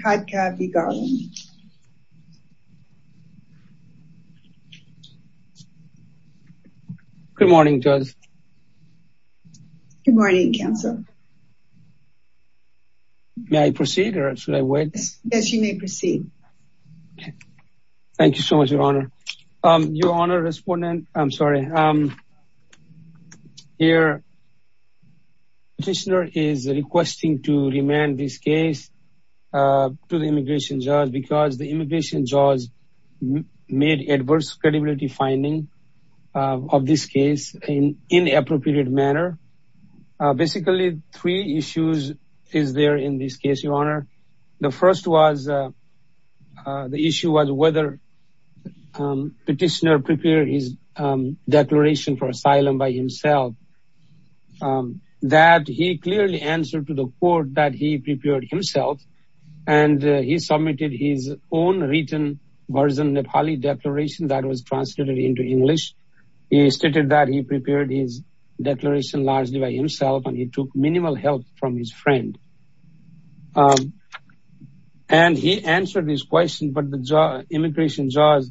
Khadka v. Garland Good morning to us. Good morning Councilor. May I proceed or should I wait? Yes, you may proceed. Thank you so much, Your Honor. Your Honor, Respondent, I'm sorry. Here, Petitioner is requesting to remand this case to the Immigration Judge because the Immigration Judge made adverse credibility finding of this case in inappropriate manner. Basically three issues is there in this case, Your Honor. The first was, the issue was whether Petitioner prepared his declaration for asylum by himself. That he clearly answered to the court that he prepared himself. And he submitted his own written version Nepali declaration that was translated into English. He stated that he prepared his declaration largely by himself and he took minimal help from his friend. And he answered his question but the Immigration Judge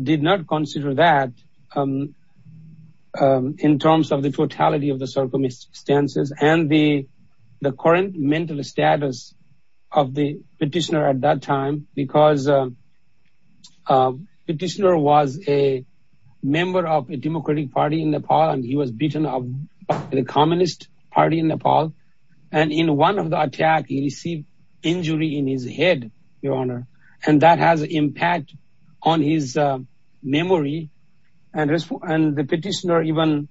did not consider that in terms of the totality of the circumstances and the current mental status of the Petitioner at that time because Petitioner was a member of a democratic party in Nepal and he was beaten up by the communist party in Nepal. And in one of the attack, he received injury in his head, Your Honor. And that has impact on his memory and the Petitioner even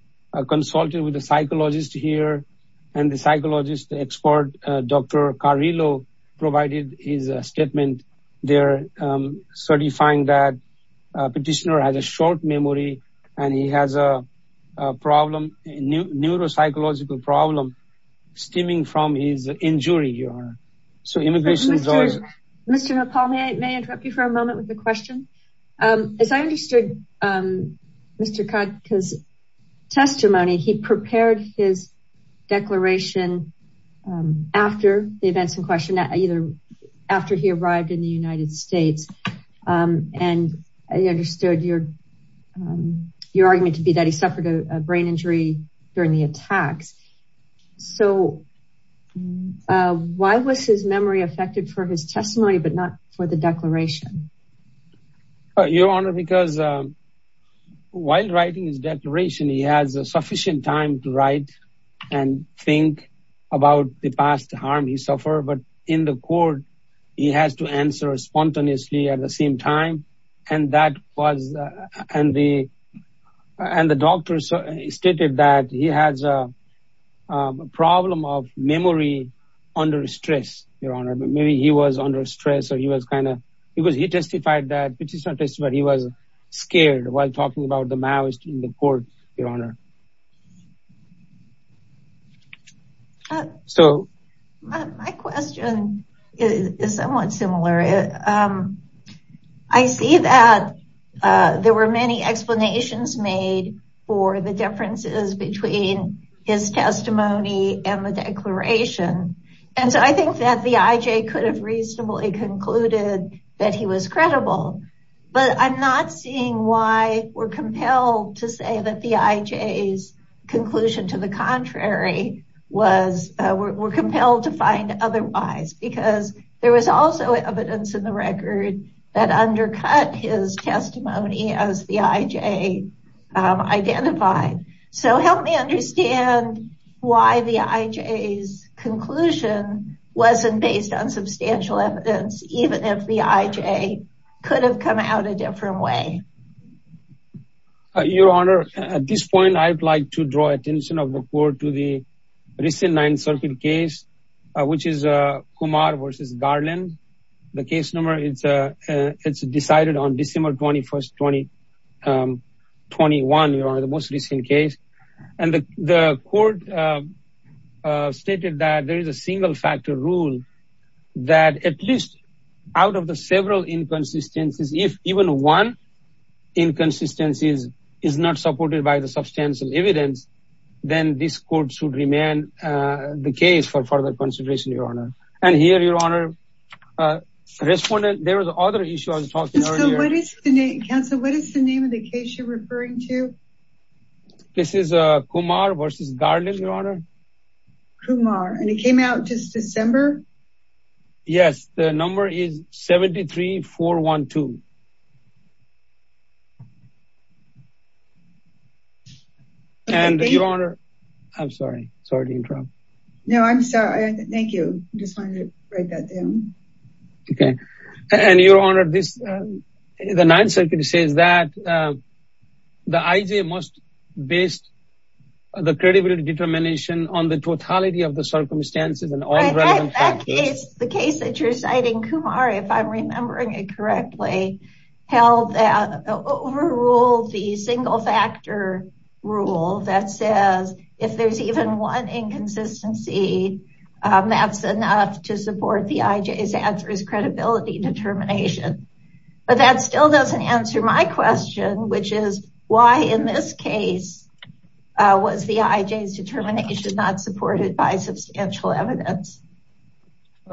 consulted with a psychologist here and the psychologist expert, Dr. Carrillo provided his statement there certifying that Petitioner has a short memory and he has a problem, a neuropsychological problem stemming from his injury, Your Honor. So Immigration Judge... Mr. Nepal, may I interrupt you for a moment with a question? As I understood Mr. Khadka's testimony, he prepared his declaration after the events in question, either after he arrived in the United States. And I understood your argument to be that he suffered a brain injury during the attacks. So why was his memory affected for his testimony but not for the declaration? Your Honor, because while writing his declaration, he has sufficient time to write and think about the past harm he suffered. But in the court, he has to answer spontaneously at the same time. And the doctor stated that he has a problem of memory under stress, Your Honor. But maybe he was under stress or he was kind of... He testified that... Petitioner testified he was scared while talking about the Maoist in the court, Your Honor. So... My question is somewhat similar. I see that there were many explanations made for the differences between his testimony and the declaration. And so I think that the IJ could have reasonably concluded that he was credible, but I'm not seeing why we're compelled to say that the IJ's conclusion to the contrary was... We're compelled to find otherwise, because there was also evidence in the record that undercut his testimony as the IJ identified. So help me understand why the IJ's conclusion wasn't based on substantial evidence, even if the IJ could have come out a different way. Your Honor, at this point, I'd like to draw attention of the court to the recent Ninth Circuit case, which is Kumar versus Garland. The case number, it's decided on December 21st, 2021, Your Honor, the most recent case. And the court stated that there is a single factor rule that at least out of the several inconsistencies, if even one inconsistency is not supported by the substantial evidence, then this court should remain the case for further consideration, Your Honor. And here, Your Honor, respondent, there was other issue I was talking earlier. Counsel, what is the name of the case you're referring to? This is a Kumar versus Garland, Your Honor. Kumar. And it came out just December? Yes. The number is 73412. And Your Honor, I'm sorry. Sorry to interrupt. No, I'm sorry. Thank you. Just wanted to write that down. Okay. And Your Honor, the Ninth Circuit says that the IJ must base the credibility determination on the totality of the circumstances and all relevant factors. The case that you're citing, Kumar, if I'm remembering it correctly, held that overruled the single factor rule that says if there's even one inconsistency, that's enough to support that the IJ's answer is credibility determination. But that still doesn't answer my question, which is why in this case was the IJ's determination not supported by substantial evidence?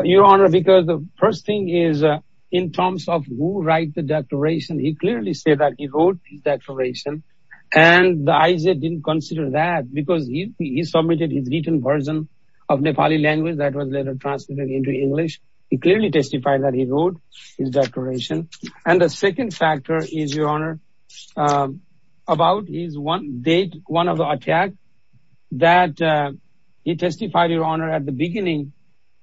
Your Honor, because the first thing is in terms of who write the declaration, he clearly said that he wrote the declaration and the IJ didn't consider that because he submitted his written version of Nepali language that was later translated into English. He clearly testified that he wrote his declaration. And the second factor is, Your Honor, about his one date, one of the attack that he testified, Your Honor, at the beginning,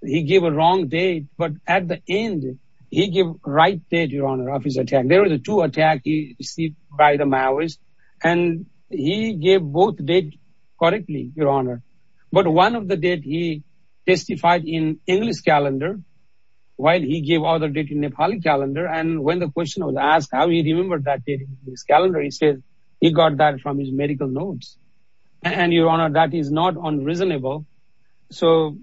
he gave a wrong date, but at the end, he gave right date, Your Honor, of his attack. There were the two attacks he received by the Maoists, and he gave both date correctly, Your Honor. But one of the date he testified in English calendar, while he gave other date in Nepali calendar. And when the question was asked how he remembered that date in his calendar, he said he got that from his medical notes. And Your Honor, that is not unreasonable. So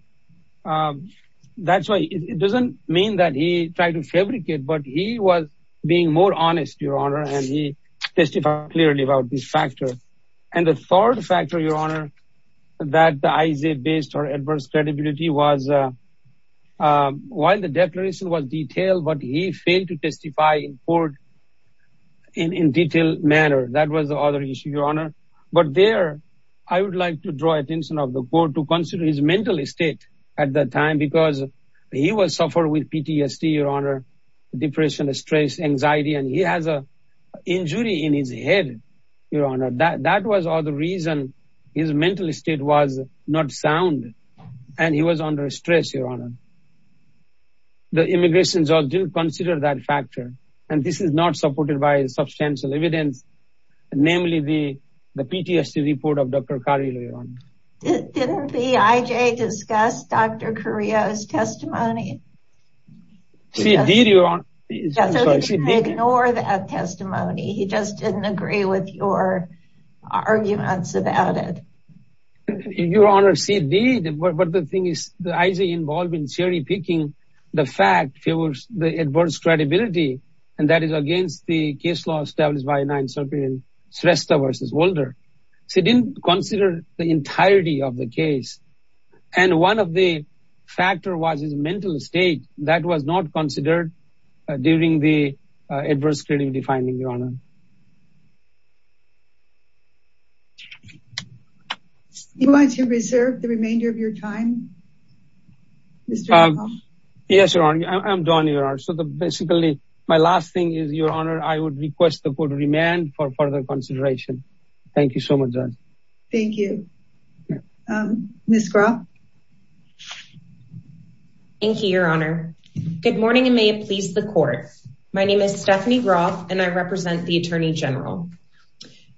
that's why it doesn't mean that he tried to fabricate, but he was being more honest, Your Honor, and he testified clearly about this factor. And the third factor, Your Honor, that the IJ based or adverse credibility was while the declaration was detailed, but he failed to testify in court in a detailed manner. That was the other issue, Your Honor. But there, I would like to draw attention of the court to consider his mental state at that time because he was suffering with PTSD, Your Honor, depression, stress, anxiety, and he has an injury in his head, Your Honor. That was the reason his mental state was not sound, and he was under stress, Your Honor. The immigration judge didn't consider that factor. And this is not supported by substantial evidence, namely the PTSD report of Dr. Carillo, Your Honor. Didn't the IJ discuss Dr. Carillo's testimony? She did, Your Honor. So he didn't ignore that testimony. He just didn't agree with your arguments about it. Your Honor, she did. But the thing is, the IJ involved in cherry picking the fact it was the adverse credibility, and that is against the case law established by the 9th Circuit in Shrestha v. Wolder. She didn't consider the entirety of the case. And one of the factors was his mental state. That was not considered during the adverse credibility finding, Your Honor. Do you want to reserve the remainder of your time, Mr. Raham? Yes, Your Honor. I'm done, Your Honor. So basically, my last thing is, Your Honor, I would request the court to remand for further consideration. Thank you so much, Judge. Thank you. Ms. Groff? Thank you, Your Honor. Good morning, and may it please the court. My name is Stephanie Groff, and I represent the Attorney General.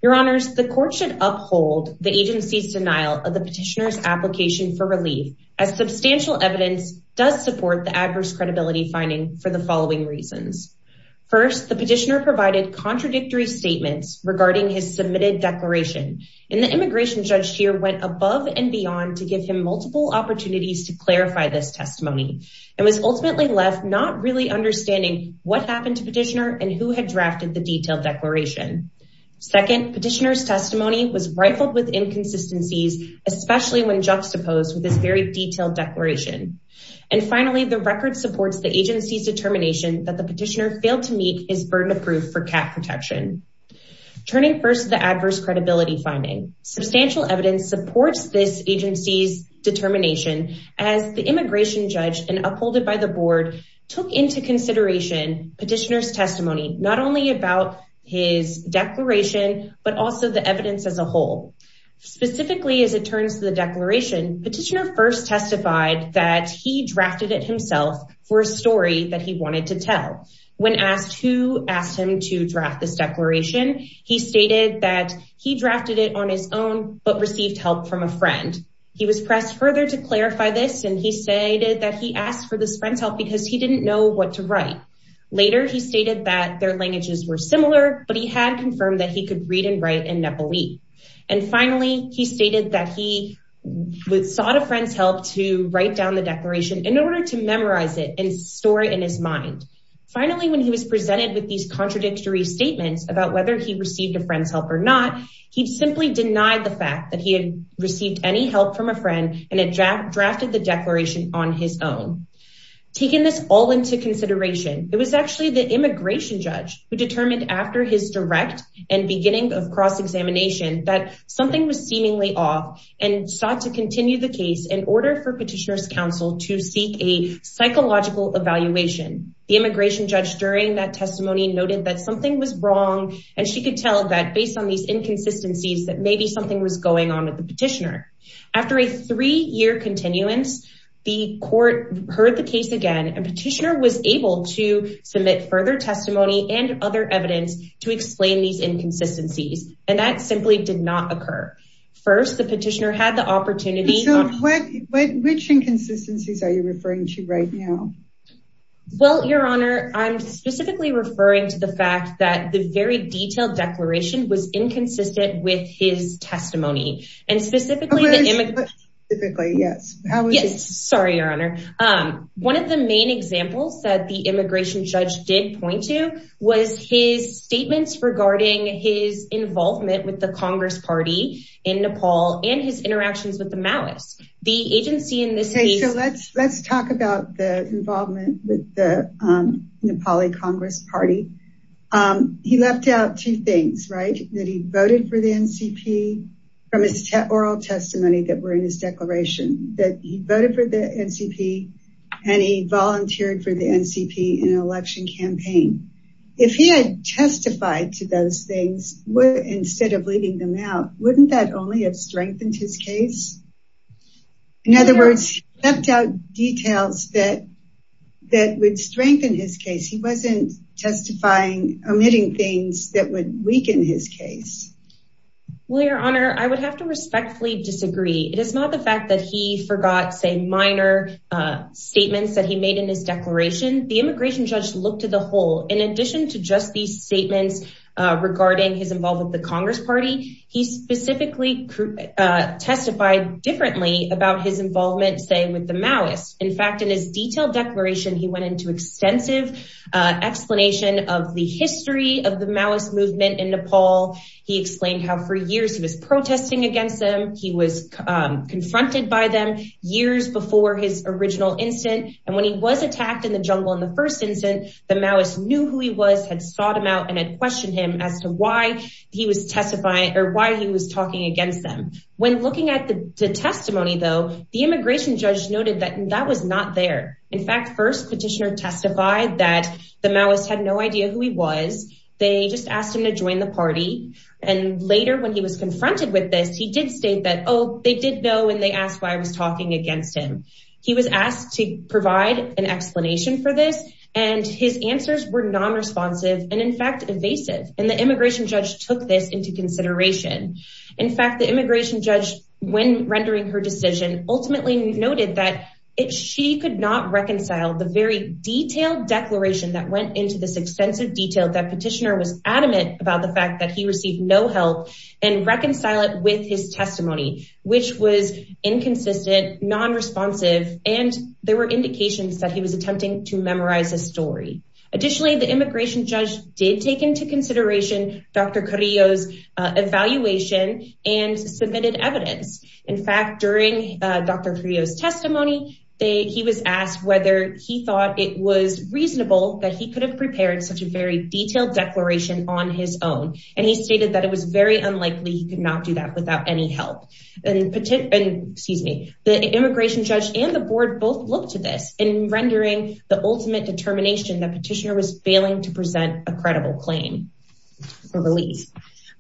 Your Honors, the court should uphold the agency's denial of the petitioner's application for relief, as substantial evidence does support the adverse credibility finding for the following reasons. First, the petitioner provided contradictory statements regarding his submitted declaration. And the immigration judge here went above and beyond to give him multiple opportunities to clarify this testimony, and was ultimately left not really understanding what happened to petitioner and who had drafted the detailed declaration. Second, petitioner's testimony was rifled with inconsistencies, especially when juxtaposed with this very detailed declaration. And finally, the record supports the agency's determination that the petitioner failed to meet his burden of proof for cat protection. Turning first to the adverse credibility finding. Substantial evidence supports this agency's determination as the immigration judge, and upholded by the board, took into consideration petitioner's testimony, not only about his declaration, but also the evidence as a whole. Specifically, as it turns to the declaration, petitioner first testified that he drafted it himself for a story that he wanted to tell. When asked who asked him to draft this declaration, he stated that he drafted it on his own, but received help from a friend. He was pressed further to clarify this, and he stated that he asked for this friend's help because he didn't know what to write. Later, he stated that their languages were similar, but he had confirmed that he could read and write in Nepali. And finally, he stated that he sought a friend's help to write down the declaration in order to memorize it and store it in his mind. Finally, when he was presented with these contradictory statements about whether he received a friend's help or not, he simply denied the fact that he had received any help from a friend and had drafted the declaration on his own. Taking this all into consideration, it was actually the immigration judge who determined after his direct and beginning of cross-examination that something was seemingly off, and sought to continue the case in order for petitioner's counsel to seek a psychological evaluation. The immigration judge during that testimony noted that something was wrong, and she could tell that based on these inconsistencies, that maybe something was going on with the petitioner. After a three-year continuance, the court heard the case again, and petitioner was able to submit further testimony and other evidence to explain these inconsistencies. And that simply did not occur. First, the petitioner had the opportunity... Michelle, which inconsistencies are you referring to right now? Well, Your Honor, I'm specifically referring to the fact that the very detailed declaration was inconsistent with his testimony. And specifically... Specifically, yes. Yes, sorry, Your Honor. One of the main examples that the immigration judge did point to was his statements regarding his involvement with the Congress party in Nepal and his interactions with the Maoists. The agency in this case... Let's talk about the involvement with the Nepali Congress party. He left out two things, right? That he voted for the NCP from his oral testimony that were in his declaration, that he voted for the NCP, and he volunteered for the NCP in an election campaign. If he had testified to those things instead of leaving them out, wouldn't that only have strengthened his case? In other words, he left out details that would strengthen his case. He wasn't testifying, omitting things that would weaken his case. Well, Your Honor, I would have to respectfully disagree. It is not the fact that he forgot, say, minor statements that he made in his declaration. The immigration judge looked to the whole. In addition to just these statements regarding his involvement with the Congress party, he specifically testified differently about his involvement, say, with the Maoists. In fact, in his detailed declaration, he went into extensive explanation of the history of the Maoist movement in Nepal. He explained how for years he was protesting against them. He was confronted by them years before his original incident. And when he was attacked in the jungle in the first instance, the Maoists knew who he was, had sought him out, and had questioned him as to why he was talking against them. When looking at the testimony, though, the immigration judge noted that that was not there. In fact, first, Petitioner testified that the Maoists had no idea who he was. They just asked him to join the party. And later, when he was confronted with this, he did state that, oh, they did know and they asked why I was talking against him. He was asked to provide an explanation for this, and his answers were non-responsive and, in fact, evasive. And the immigration judge took this into consideration. In fact, the immigration judge, when rendering her decision, ultimately noted that she could not reconcile the very detailed declaration that went into this extensive detail that Petitioner was adamant about the fact that he received no help and reconcile it with his testimony, which was inconsistent, non-responsive, and there were indications that he was attempting to memorize a story. Additionally, the immigration judge did take into consideration Dr. Carrillo's evaluation and submitted evidence. In fact, during Dr. Carrillo's testimony, he was asked whether he thought it was reasonable that he could have prepared such a very detailed declaration on his own. And he stated that it was very unlikely he could not do that without any help. The immigration judge and the board both looked to this in rendering the ultimate determination that Petitioner was failing to present a credible claim for release.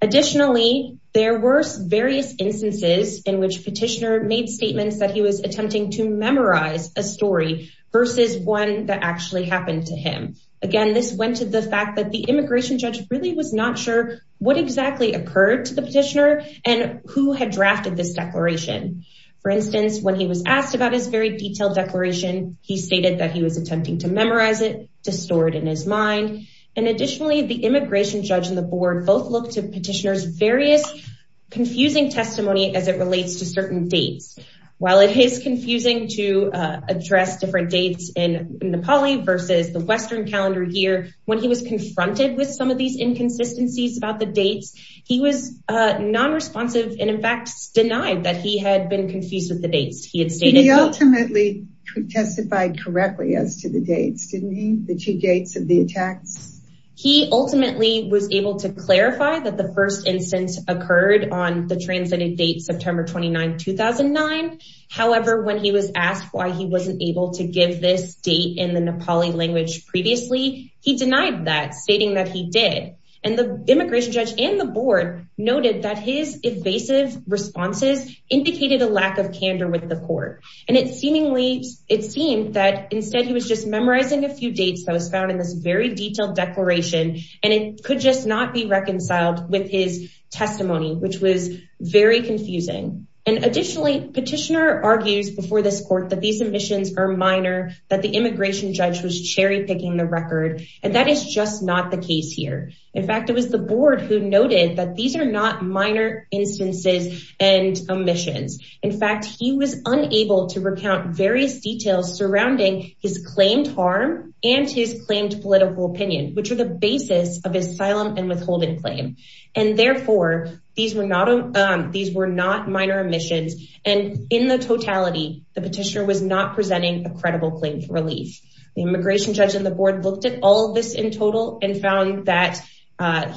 Additionally, there were various instances in which Petitioner made statements that he was attempting to memorize a story versus one that actually happened to him. Again, this went to the fact that the immigration judge really was not sure what exactly occurred to the Petitioner and who had drafted this declaration. For instance, when he was asked about his very detailed declaration, he stated that he was attempting to memorize it, to store it in his mind. And additionally, the immigration judge and the board both looked to Petitioner's various confusing testimony as it relates to certain dates. While it is confusing to address different dates in Nepali versus the Western calendar year, when he was confronted with some of these inconsistencies about the dates, he was non-responsive and in fact, denied that he had been confused with the dates. He had stated... He ultimately testified correctly as to the dates, didn't he? The two dates of the attacks. He ultimately was able to clarify that the first instance occurred on the translated date September 29, 2009. However, when he was asked why he wasn't able to give this date in the Nepali language previously, he denied that stating that he did. And the immigration judge and the board noted that his evasive responses indicated a lack of candor with the court. And it seemingly... It seemed that instead he was just memorizing a few dates that was found in this very detailed declaration and it could just not be reconciled with his testimony, which was very confusing. And additionally, petitioner argues before this court that these omissions are minor, that the immigration judge was cherry picking the record. And that is just not the case here. In fact, it was the board who noted that these are not minor instances and omissions. In fact, he was unable to recount various details surrounding his claimed harm and his claimed political opinion, which are the basis of asylum and withholding claim. And therefore, these were not minor omissions. And in the totality, the petitioner was not presenting a credible claim for relief. The immigration judge and the board looked at all of this in total and found that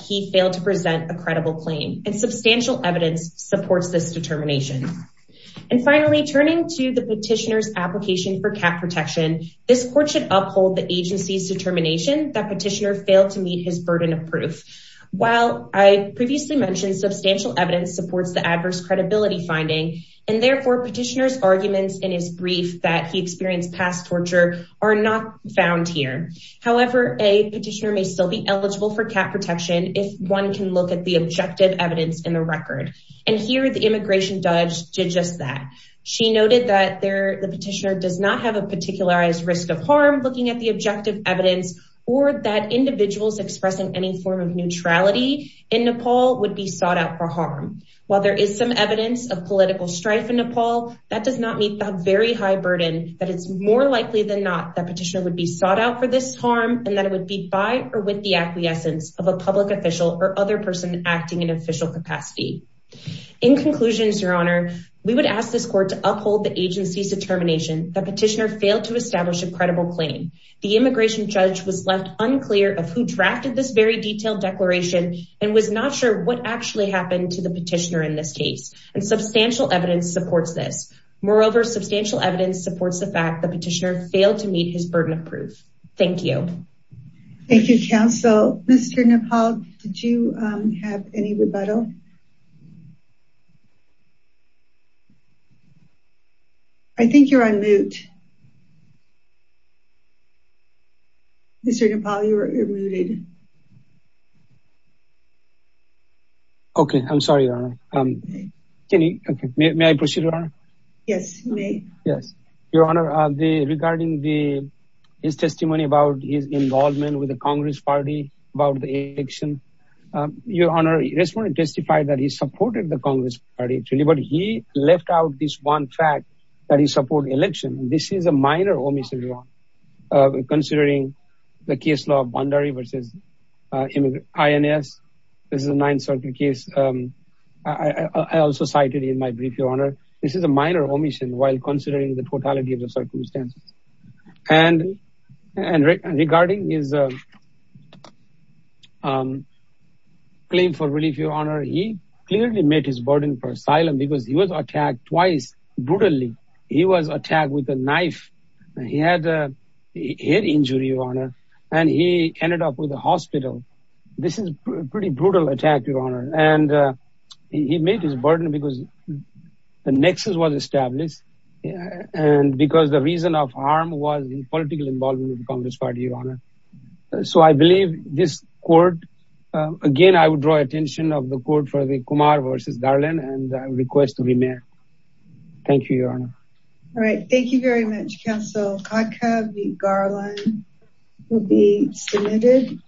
he failed to present a credible claim. And substantial evidence supports this determination. And finally, turning to the petitioner's application for cap protection, this court should uphold the agency's determination that petitioner failed to meet his burden of proof. While I previously mentioned substantial evidence supports the adverse credibility finding, and therefore petitioner's arguments in his brief that he experienced past torture are not found here. However, a petitioner may still be eligible for cap protection if one can look at the objective evidence in the record. And here, the immigration judge did just that. She noted that the petitioner does not have a particularized risk of harm looking at the objective evidence, or that individuals expressing any form of neutrality in Nepal would be sought out for harm. While there is some evidence of political strife in Nepal, that does not meet the very high burden that it's more likely than not that petitioner would be sought out for this harm, and that it would be by or with the acquiescence of a public official or other person acting in official capacity. In conclusion, Your Honor, we would ask this court to uphold the agency's determination that petitioner failed to establish a credible claim. The immigration judge was left unclear of who drafted this very detailed declaration, and was not sure what actually happened to the petitioner in this case. And substantial evidence supports this. Moreover, substantial evidence supports the fact the petitioner failed to meet his burden of proof. Thank you. Thank you, counsel. Mr. Nepal, did you have any rebuttal? I think you're on mute. Mr. Nepal, you're muted. Okay, I'm sorry, Your Honor. May I proceed, Your Honor? Yes, you may. Your Honor, regarding his testimony about his involvement with the Congress Party, about the election. Your Honor, I just want to testify that he supported the Congress Party, that he supported the election. This is a minor omission, Your Honor. Considering the case law of Bhandari versus INS. This is a Ninth Circuit case. I also cited it in my brief, Your Honor. This is a minor omission, while considering the totality of the circumstances. And regarding his claim for relief, Your Honor, he clearly met his burden for asylum because he was attacked twice, brutally. He was attacked with a knife. He had a head injury, Your Honor. And he ended up with the hospital. This is a pretty brutal attack, Your Honor. And he met his burden because the nexus was established. And because the reason of harm was the political involvement of the Congress Party, Your Honor. So I believe this court, again, I would draw attention of the court for the Kumar versus Garland and request a remand. Thank you, Your Honor. All right. Thank you very much, Counsel. Kodko v. Garland will be submitted.